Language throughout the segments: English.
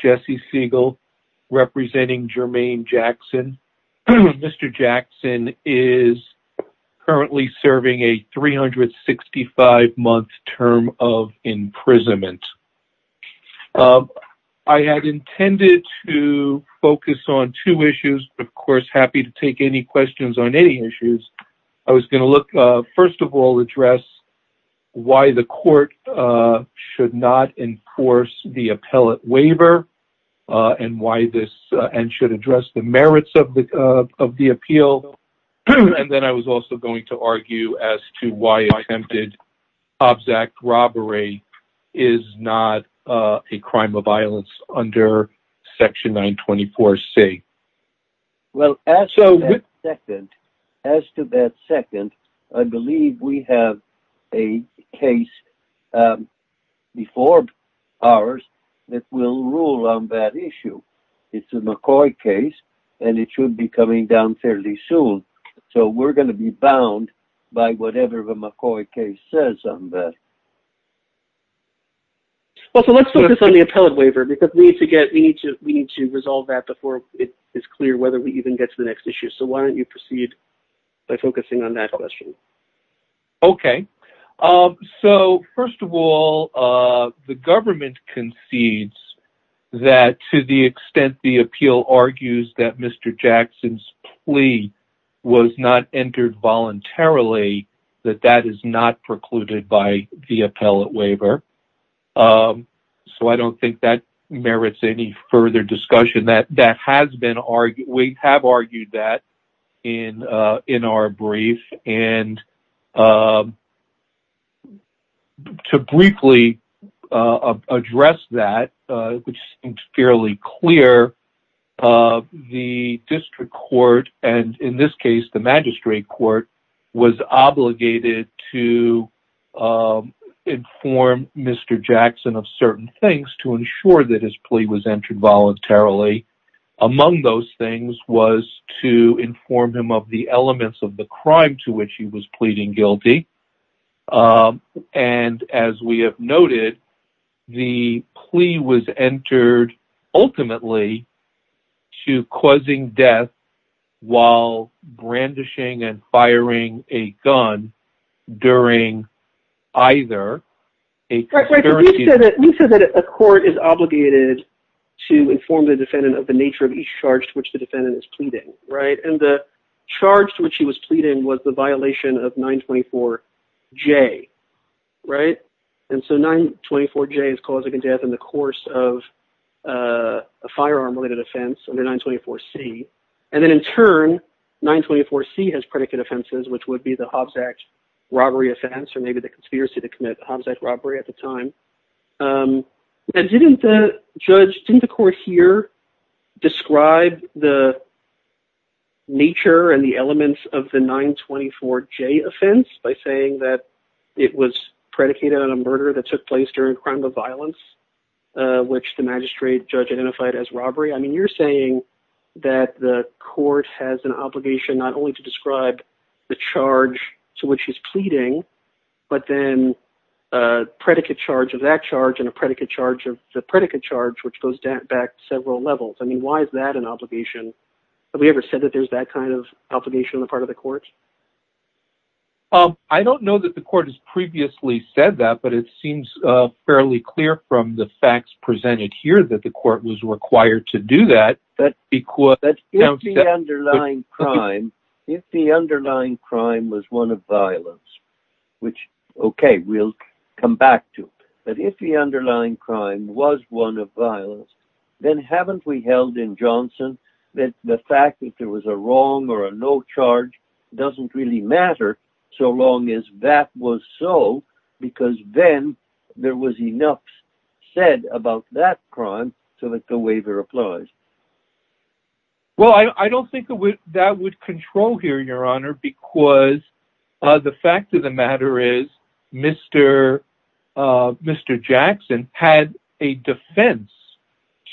Jesse Siegel, representing Jermaine Jackson, is currently serving a 365-month term of imprisonment. I had intended to focus on two issues. Of course, I'm happy to take any questions on any issues. I was going to, first of all, address why the court should not enforce the appellate waiver and should address the merits of the appeal. And then I was also going to argue as to why attempted Hobbs Act robbery is not a crime of violence under Section 924C. Well, as to that second, I believe we have a case before ours that will rule on that issue. It's a McCoy case and it should be coming down fairly soon. So we're going to be bound by whatever the McCoy case says on that. Well, let's focus on the appellate waiver because we need to resolve that before it is clear whether we even get to the next issue. So why don't you proceed by focusing on that question? OK. So, first of all, the government concedes that to the extent the appeal argues that Mr. Jackson's plea was not entered voluntarily, that that is not precluded by the appellate waiver. So I don't think that merits any further discussion. We have argued that in our brief. And to briefly address that, which seems fairly clear, the district court, and in this case the magistrate court, was obligated to inform Mr. Jackson of certain things to ensure that his plea was entered voluntarily. Among those things was to inform him of the elements of the crime to which he was pleading guilty. And as we have noted, the plea was entered ultimately to causing death while brandishing and firing a gun during either a currency- And so 924J is causing a death in the course of a firearm-related offense under 924C. And then, in turn, 924C has predicate offenses, which would be the Hobbs Act robbery offense or maybe the conspiracy to commit the Hobbs Act robbery at the time. Now, didn't the court here describe the nature and the elements of the 924J offense by saying that it was predicated on a murder that took place during a crime of violence, which the magistrate judge identified as robbery? I mean, you're saying that the court has an obligation not only to describe the charge to which he's pleading, but then a predicate charge of that charge and a predicate charge of the predicate charge, which goes back several levels. I mean, why is that an obligation? Have we ever said that there's that kind of obligation on the part of the court? I don't know that the court has previously said that, but it seems fairly clear from the facts presented here that the court was required to do that. But if the underlying crime was one of violence, then haven't we held in Johnson that the fact that there was a wrong or a no charge doesn't really matter so long as that was so, because then there was enough said about that crime so that the waiver applies? Well, I don't think that would control here, Your Honor, because the fact of the matter is Mr. Jackson had a defense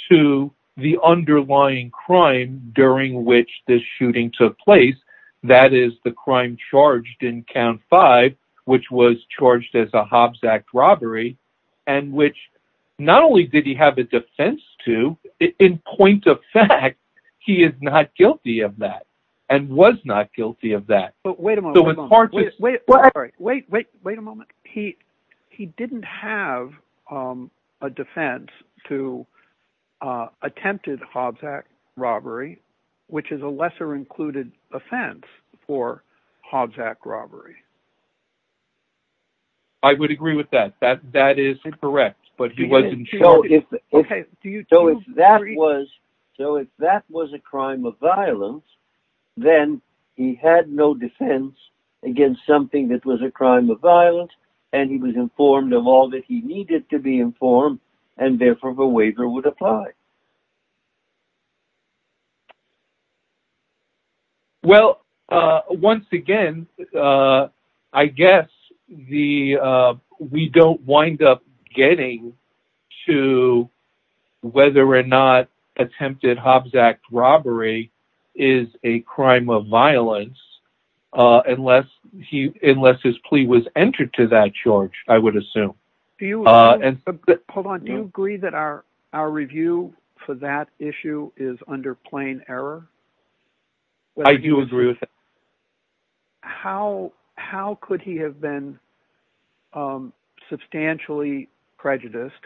to the underlying crime during which this shooting took place. That is, the crime charged in count five, which was charged as a Hobbs Act robbery, and which not only did he have a defense to, in point of fact, he is not guilty of that and was not guilty of that. But wait a moment. Wait, wait, wait, wait a moment. He didn't have a defense to attempted Hobbs Act robbery, which is a lesser included offense for Hobbs Act robbery. I would agree with that. That is correct, but he wasn't. So if that was a crime of violence, then he had no defense against something that was a crime of violence, and he was informed of all that he needed to be informed, and therefore the waiver would apply. Well, once again, I guess we don't wind up getting to whether or not attempted Hobbs Act robbery is a crime of violence unless his plea was entered to that charge, I would assume. Hold on. Do you agree that our review for that issue is under plain error? I do agree with that. How could he have been substantially prejudiced,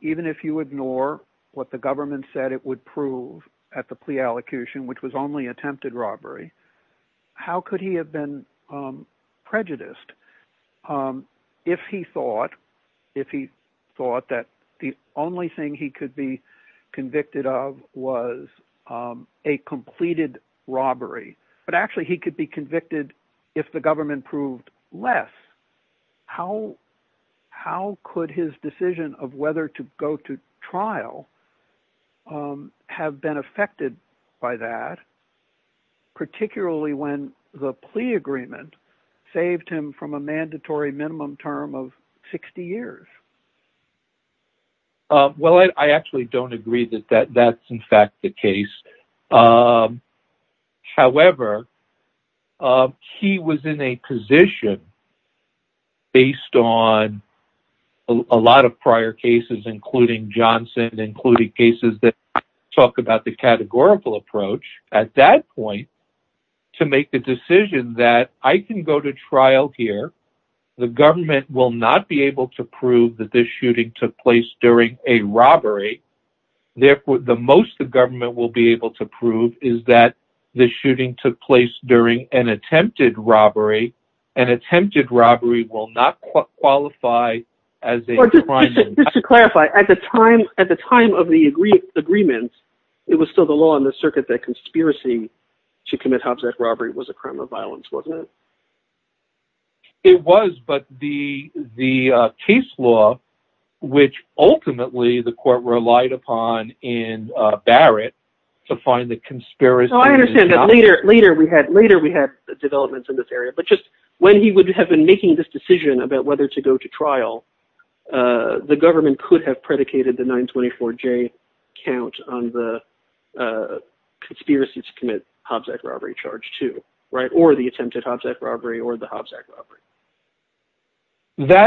even if you ignore what the government said it would prove at the plea allocution, which was only attempted robbery? How could he have been prejudiced if he thought that the only thing he could be convicted of was a completed robbery? But actually, he could be convicted if the government proved less. How could his decision of whether to go to trial have been affected by that, particularly when the plea agreement saved him from a mandatory minimum term of 60 years? Well, I actually don't agree that that's in fact the case. However, he was in a position, based on a lot of prior cases, including Johnson, including cases that talk about the categorical approach, at that point, to make the decision that I can go to trial here. The government will not be able to prove that this shooting took place during a robbery. Therefore, the most the government will be able to prove is that the shooting took place during an attempted robbery. An attempted robbery will not qualify as a crime. Just to clarify, at the time of the agreement, it was still the law in the circuit that conspiracy to commit Hobbs Act robbery was a crime of violence, wasn't it? It was, but the case law, which ultimately the court relied upon in Barrett to find the conspiracy… That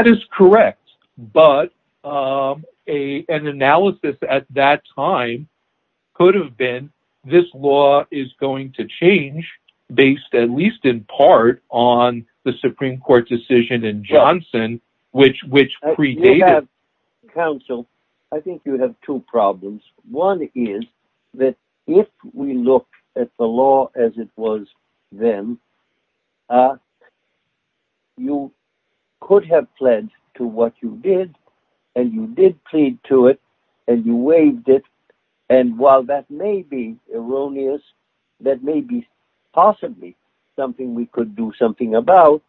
is correct, but an analysis at that time could have been, this law is going to change, based at least in part on the Supreme Court decision in Johnson, which predated… Counsel, I think you have two problems. One is that if we look at the law as it was then, you could have pledged to what you did, and you did plead to it, and you waived it. And while that may be erroneous, that may be possibly something we could do something about,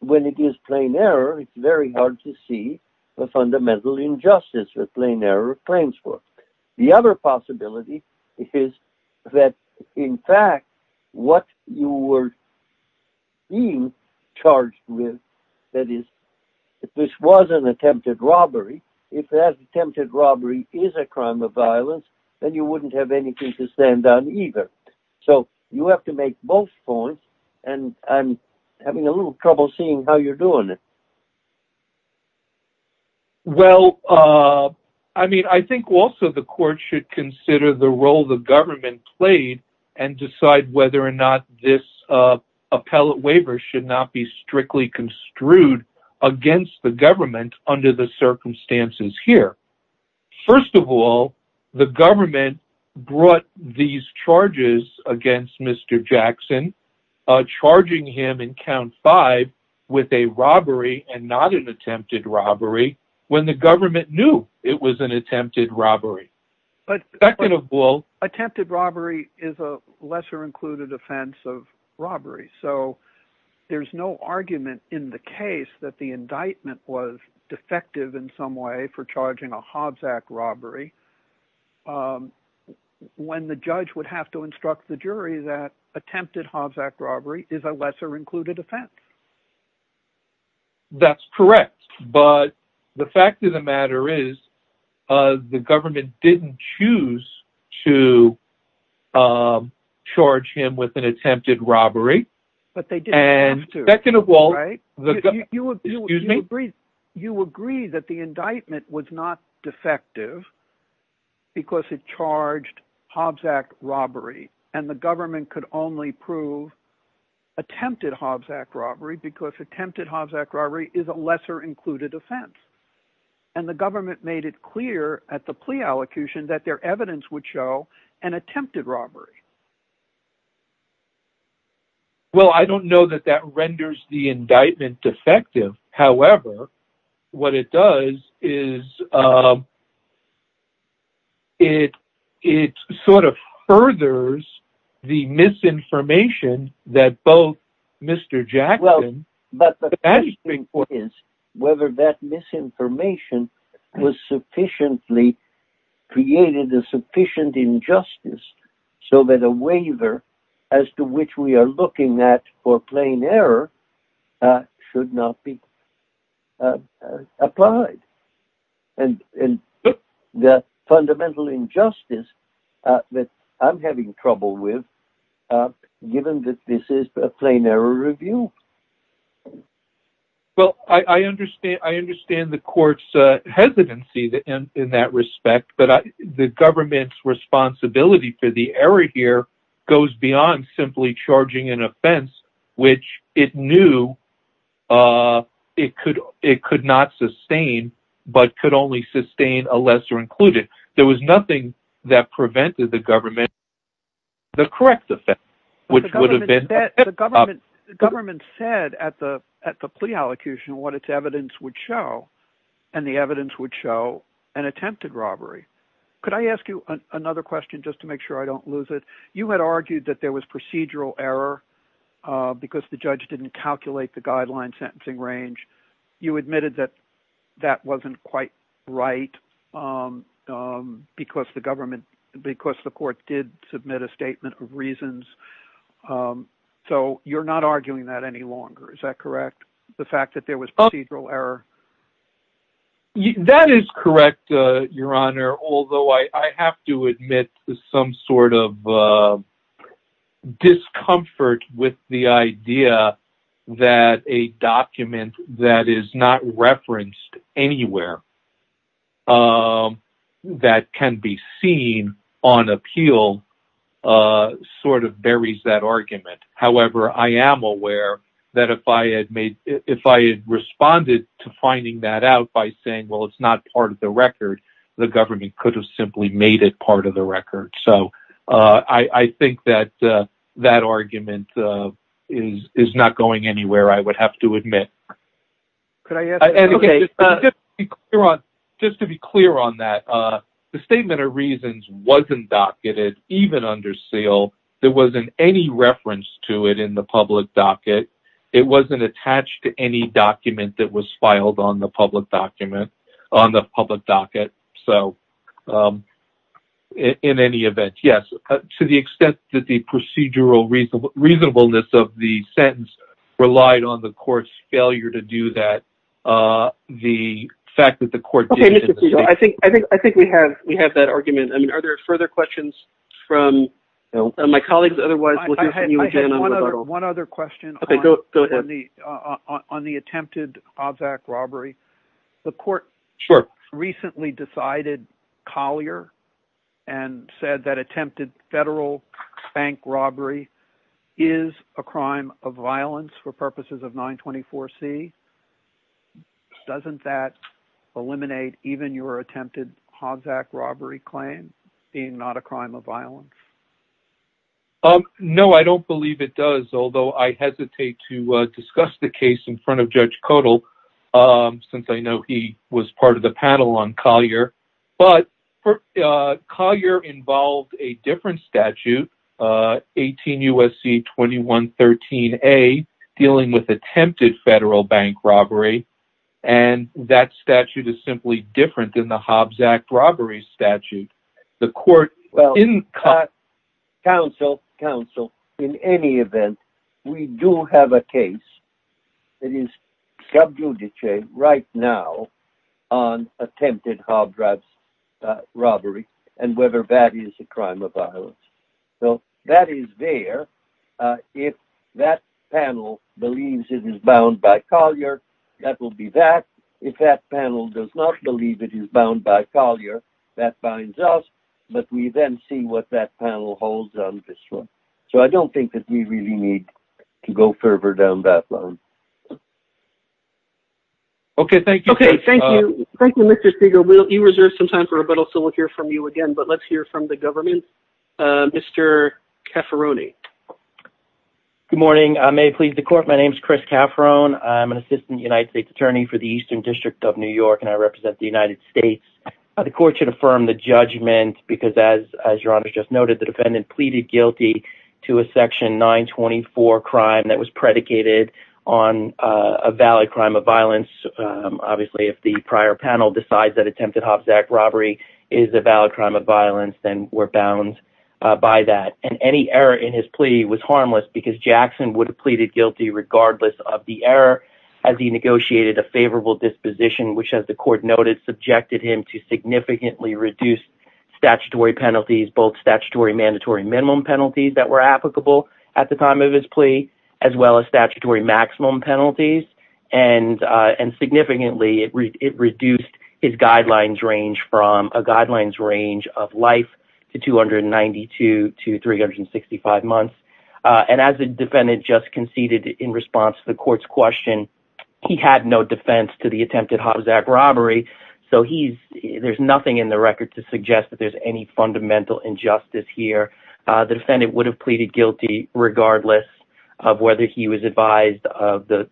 when it is plain error, it's very hard to see the fundamental injustice that plain error claims for. The other possibility is that, in fact, what you were being charged with, that is, if this was an attempted robbery, if that attempted robbery is a crime of violence, then you wouldn't have anything to stand on either. So you have to make both points, and I'm having a little trouble seeing how you're doing it. Well, I think also the court should consider the role the government played, and decide whether or not this appellate waiver should not be strictly construed against the government under the circumstances here. First of all, the government brought these charges against Mr. Jackson, charging him in count five with a robbery and not an attempted robbery, when the government knew it was an attempted robbery. Attempted robbery is a lesser-included offense of robbery, so there's no argument in the case that the indictment was defective in some way for charging a Hobbs Act robbery, when the judge would have to instruct the jury that attempted Hobbs Act robbery is a lesser-included offense. That's correct, but the fact of the matter is the government didn't choose to charge him with an attempted robbery. You agree that the indictment was not defective because it charged Hobbs Act robbery, and the government could only prove attempted Hobbs Act robbery, because attempted Hobbs Act robbery is a lesser-included offense. And the government made it clear at the plea allocution that their evidence would show an attempted robbery. Well, I don't know that that renders the indictment defective. However, what it does is it sort of furthers the misinformation that both Mr. Jackson and Mr. Hobbs Act robbery were charged with. Well, I understand the court's hesitancy in that respect. But the government's responsibility for the error here goes beyond simply charging an offense, which it knew it could not sustain, but could only sustain a lesser-included offense. There was nothing that prevented the government from doing the correct offense, which would have been an attempted robbery. Because the court did submit a statement of reasons. So you're not arguing that any longer, is that correct? The fact that there was procedural error? That is correct, Your Honor, although I have to admit some sort of discomfort with the idea that a document that is not referenced anywhere that can be seen on appeal sort of buries that argument. However, I am aware that if I had responded to finding that out by saying, well, it's not part of the record, the government could have simply made it part of the record. So I think that that argument is not going anywhere, I would have to admit. Just to be clear on that, the statement of reasons wasn't docketed even under seal. There wasn't any reference to it in the public docket. It wasn't attached to any document that was filed on the public docket. So, in any event, yes, to the extent that the procedural reasonableness of the sentence relied on the court's failure to do that, the fact that the court did... I think we have that argument. Are there further questions from my colleagues? I have one other question on the attempted Hobbs Act robbery. The court recently decided Collier and said that attempted federal bank robbery is a crime of violence for purposes of 924C. Doesn't that eliminate even your attempted Hobbs Act robbery claim being not a crime of violence? No, I don't believe it does, although I hesitate to discuss the case in front of Judge Kodal since I know he was part of the panel on Collier. But Collier involved a different statute, 18 U.S.C. 2113A, dealing with attempted federal bank robbery, and that statute is simply different than the Hobbs Act robbery statute. Well, counsel, in any event, we do have a case that is sub judice right now on attempted Hobbs Act robbery and whether that is a crime of violence. So that is there. If that panel believes it is bound by Collier, that will be that. If that panel does not believe it is bound by Collier, that binds us. But we then see what that panel holds on this one. So I don't think that we really need to go further down that line. Okay, thank you. Thank you. Thank you, Mr. Segal. You reserve some time for rebuttal, so we'll hear from you again. But let's hear from the government. Mr. Cafferone. Good morning. I may please the court. My name is Chris Cafferone. I'm an assistant United States attorney for the Eastern District of New York, and I represent the United States. The court should affirm the judgment because, as your Honor just noted, the defendant pleaded guilty to a section 924 crime that was predicated on a valid crime of violence. Obviously, if the prior panel decides that attempted Hobbs Act robbery is a valid crime of violence, then we're bound by that. And any error in his plea was harmless because Jackson would have pleaded guilty regardless of the error as he negotiated a favorable disposition, which, as the court noted, subjected him to significantly reduced statutory penalties, both statutory mandatory minimum penalties that were applicable at the time of his plea, as well as statutory maximum penalties. And significantly, it reduced his guidelines range from a guidelines range of life to 292 to 365 months. And as the defendant just conceded in response to the court's question, he had no defense to the attempted Hobbs Act robbery, so there's nothing in the record to suggest that there's any fundamental injustice here. The defendant would have pleaded guilty regardless of whether he was advised of the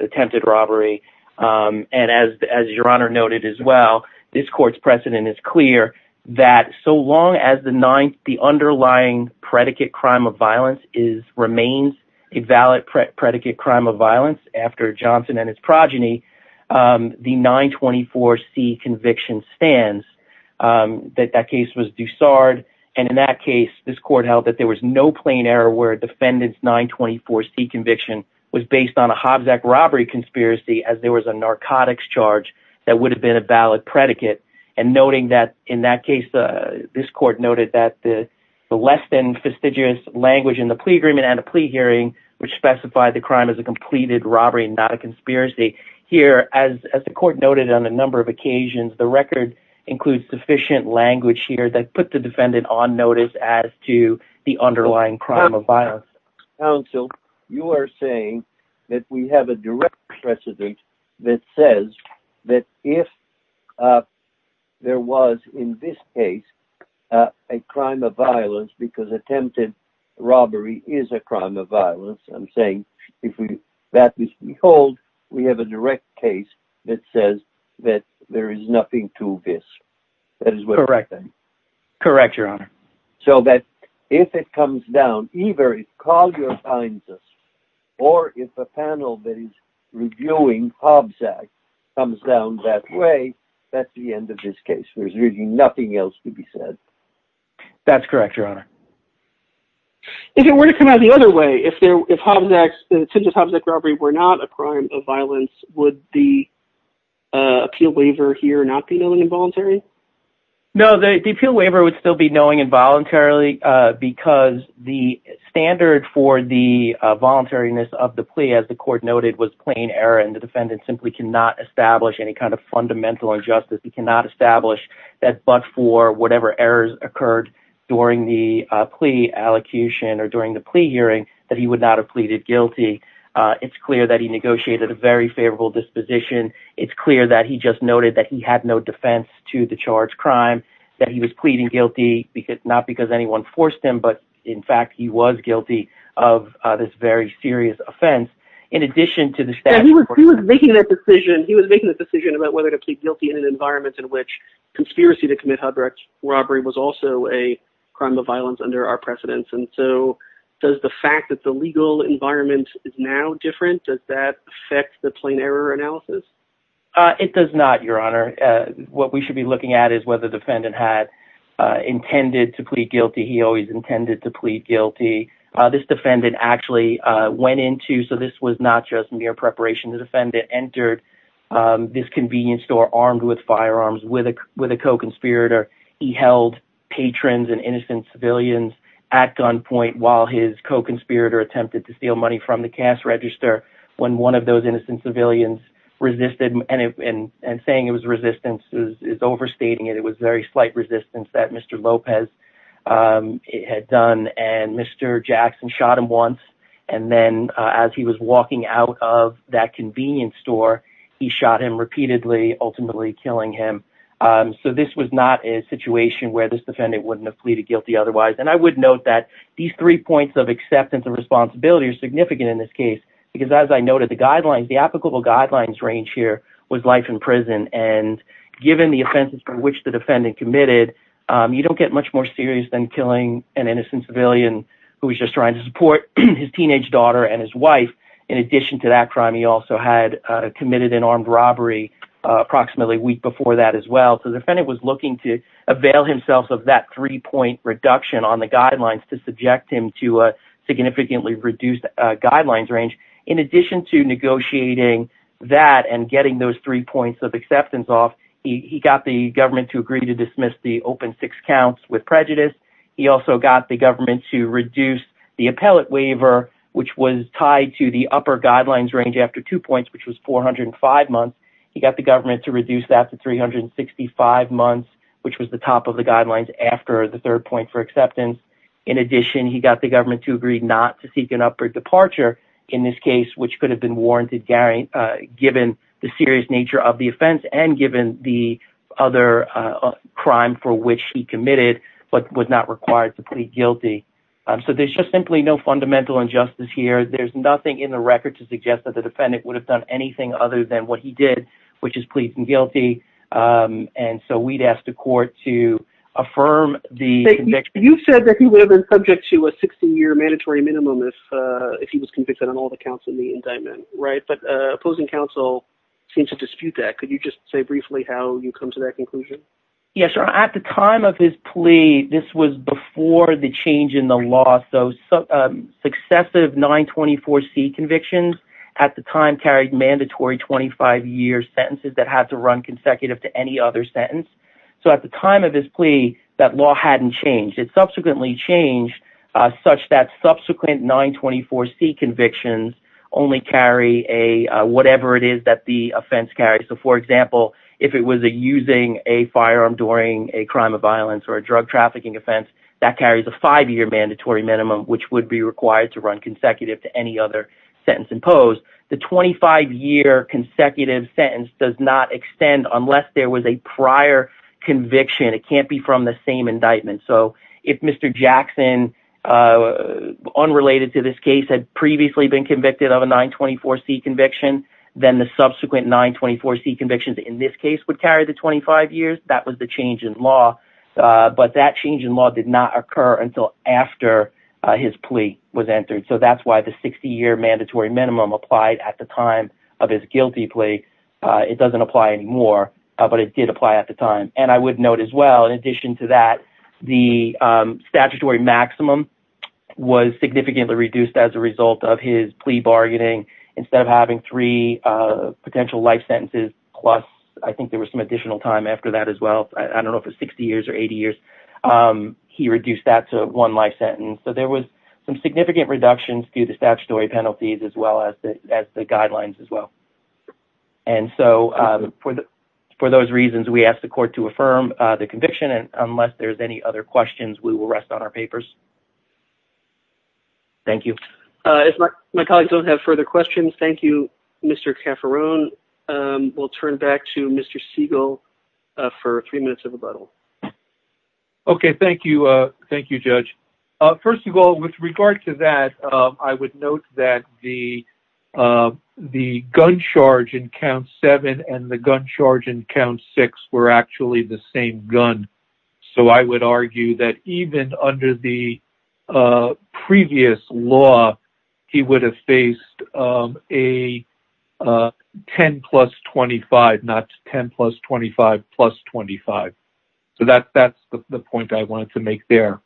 attempted robbery. And as your Honor noted as well, this court's precedent is clear that so long as the underlying predicate crime of violence remains a valid predicate crime of violence after Johnson and his progeny, the 924C conviction stands, that that case was Dussard, and in that case, this court held that there was no plain error where a defendant's 924C conviction was based on a Hobbs Act robbery conspiracy as there was a narcotics charge that would have been a valid predicate. And noting that in that case, this court noted that the less than fastidious language in the plea agreement and a plea hearing, which specified the crime as a completed robbery, not a conspiracy. Here, as the court noted on a number of occasions, the record includes sufficient language here that put the defendant on notice as to the underlying crime of violence. Counsel, you are saying that we have a direct precedent that says that if there was, in this case, a crime of violence, because attempted robbery is a crime of violence, I'm saying that if we hold, we have a direct case that says that there is nothing to this. Correct. Correct, Your Honor. So that if it comes down, either it's called your kindness, or if a panel that is reviewing Hobbs Act comes down that way, that's the end of this case. There's really nothing else to be said. That's correct, Your Honor. If it were to come out the other way, if Hobbs Act, attempted Hobbs Act robbery were not a crime of violence, would the appeal waiver here not be known involuntary? No, the appeal waiver would still be knowing involuntarily because the standard for the voluntariness of the plea, as the court noted, was plain error, and the defendant simply cannot establish any kind of fundamental injustice. He cannot establish that but for whatever errors occurred during the plea allocution or during the plea hearing that he would not have pleaded guilty. It's clear that he negotiated a very favorable disposition. It's clear that he just noted that he had no defense to the charged crime, that he was pleading guilty, not because anyone forced him, but in fact he was guilty of this very serious offense. He was making that decision about whether to plead guilty in an environment in which conspiracy to commit Hobbs Act robbery was also a crime of violence under our precedence, and so does the fact that the legal environment is now different, does that affect the plain error analysis? It does not, Your Honor. What we should be looking at is whether the defendant had intended to plead guilty. He always intended to plead guilty. This defendant actually went into, so this was not just mere preparation. The defendant entered this convenience store armed with firearms with a co-conspirator. He held patrons and innocent civilians at gunpoint while his co-conspirator attempted to steal money from the cash register when one of those innocent civilians resisted and saying it was resistance is overstating it. It was very slight resistance that Mr. Lopez had done, and Mr. Jackson shot him once, and then as he was walking out of that convenience store, he shot him repeatedly, ultimately killing him. So this was not a situation where this defendant wouldn't have pleaded guilty otherwise, and I would note that these three points of acceptance and responsibility are significant in this case, because as I noted, the applicable guidelines range here was life in prison, and given the offenses for which the defendant committed, you don't get much more serious than killing an innocent civilian who was just trying to support his teenage daughter and his wife. In addition to that crime, he also had committed an armed robbery approximately a week before that as well. So the defendant was looking to avail himself of that three-point reduction on the guidelines to subject him to a significantly reduced guidelines range. In addition to negotiating that and getting those three points of acceptance off, he got the government to agree to dismiss the open six counts with prejudice. He also got the government to reduce the appellate waiver, which was tied to the upper guidelines range after two points, which was 405 months. He got the government to reduce that to 365 months, which was the top of the guidelines after the third point for acceptance. In addition, he got the government to agree not to seek an upward departure in this case, which could have been warranted given the serious nature of the offense and given the other crime for which he committed, but was not required to plead guilty. So there's just simply no fundamental injustice here. There's nothing in the record to suggest that the defendant would have done anything other than what he did, which is pleading guilty. And so we'd ask the court to affirm the conviction. David, I think you would have been subject to a 16-year mandatory minimum if he was convicted on all the counts in the indictment, right? But opposing counsel seems to dispute that. Could you just say briefly how you come to that conclusion? Yeah, sure. At the time of his plea, this was before the change in the law. So successive 924C convictions at the time carried mandatory 25-year sentences that had to run consecutive to any other sentence. So at the time of his plea, that law hadn't changed. It subsequently changed such that subsequent 924C convictions only carry whatever it is that the offense carries. So for example, if it was using a firearm during a crime of violence or a drug trafficking offense, that carries a five-year mandatory minimum, which would be required to run consecutive to any other sentence imposed. The 25-year consecutive sentence does not extend unless there was a prior conviction. It can't be from the same indictment. So if Mr. Jackson, unrelated to this case, had previously been convicted of a 924C conviction, then the subsequent 924C convictions in this case would carry the 25 years. That was the change in law. But that change in law did not occur until after his plea was entered. So that's why the 60-year mandatory minimum applied at the time of his guilty plea. It doesn't apply anymore, but it did apply at the time. And I would note as well, in addition to that, the statutory maximum was significantly reduced as a result of his plea bargaining. Instead of having three potential life sentences plus, I think there was some additional time after that as well, I don't know if it was 60 years or 80 years, he reduced that to one life sentence. So there was some significant reductions to the statutory penalties as well as the guidelines as well. And so for those reasons, we ask the court to affirm the conviction. And unless there's any other questions, we will rest on our papers. Thank you. If my colleagues don't have further questions, thank you, Mr. Cafferon. We'll turn back to Mr. Siegel for three minutes of rebuttal. Okay. Thank you. Thank you, Judge. First of all, with regard to that, I would note that the gun charge in count seven and the gun charge in count six were actually the same gun. So I would argue that even under the previous law, he would have faced a 10 plus 25, not 10 plus 25 plus 25. So that's the point I wanted to make there.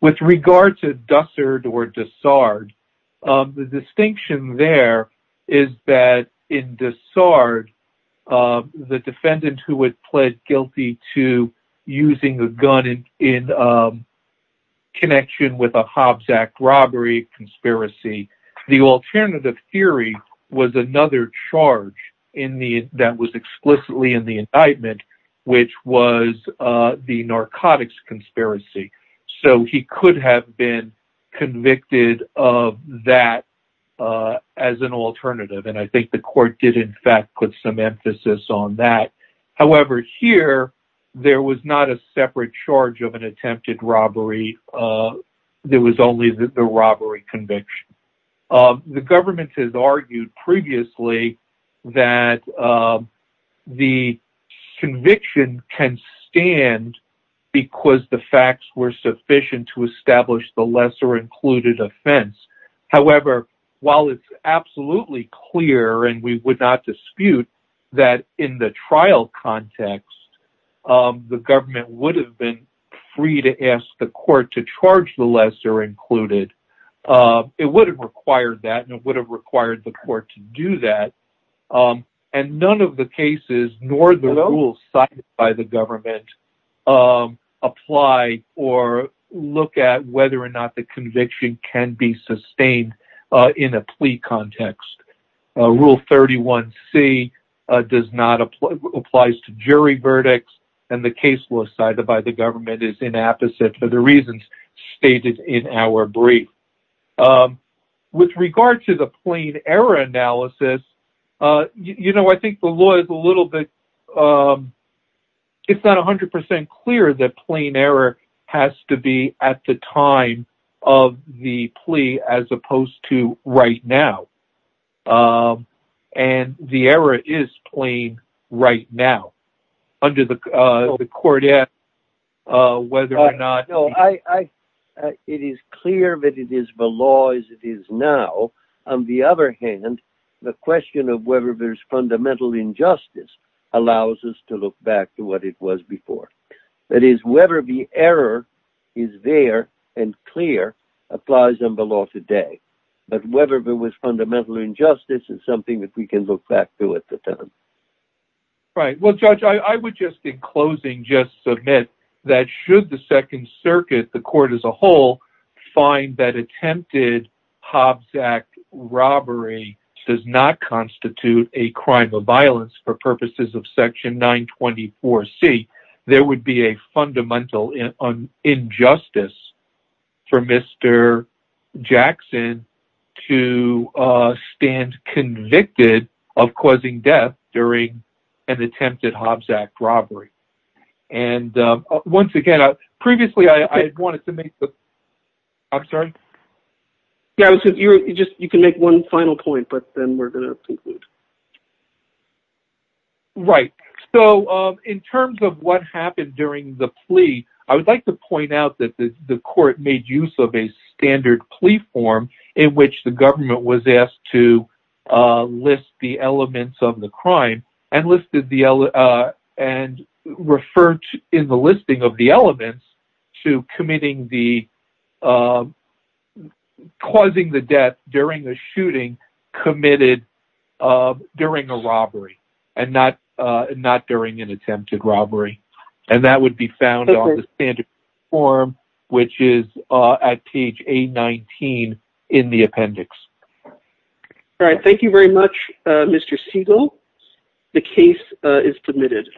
With regard to Dussard or Dessard, the distinction there is that in Dessard, the defendant who had pled guilty to using a gun in connection with a Hobbs Act robbery conspiracy, the alternative theory was another charge that was explicitly in the indictment, which was the narcotics conspiracy. So he could have been convicted of that as an alternative. And I think the court did, in fact, put some emphasis on that. However, here, there was not a separate charge of an attempted robbery. There was only the robbery conviction. The government has argued previously that the conviction can stand because the facts were sufficient to establish the lesser included offense. However, while it's absolutely clear and we would not dispute that in the trial context, the government would have been free to ask the court to charge the lesser included. It would have required that and it would have required the court to do that. And none of the cases, nor the rules cited by the government, apply or look at whether or not the conviction can be sustained in a plea context. Rule 31C applies to jury verdicts and the case law cited by the government is inapposite for the reasons stated in our brief. With regard to the plain error analysis, I think the law is a little bit, it's not 100% clear that plain error has to be at the time of the plea as opposed to right now. And the error is plain right now. Under the court act, whether or not... Right. Well, Judge, I would just, in closing, just submit that should the Second Circuit, the court as a whole, find that attempted Hobbs Act robbery does not constitute a crime of violence for purposes of Section 924C, there would be a fundamental injustice for Mr. Jackson to... Stand convicted of causing death during an attempted Hobbs Act robbery. And once again, previously I had wanted to make the... I'm sorry. Yeah, you can make one final point, but then we're going to conclude. Right. So in terms of what happened during the plea, I would like to point out that the court made use of a standard plea form in which the government was asked to list the elements of the crime and listed the... And referred in the listing of the elements to committing the... Causing the death during a shooting committed during a robbery and not during an attempted robbery. And that would be found on the standard form, which is at page 819 in the appendix. All right. Thank you very much, Mr. Siegel. The case is submitted.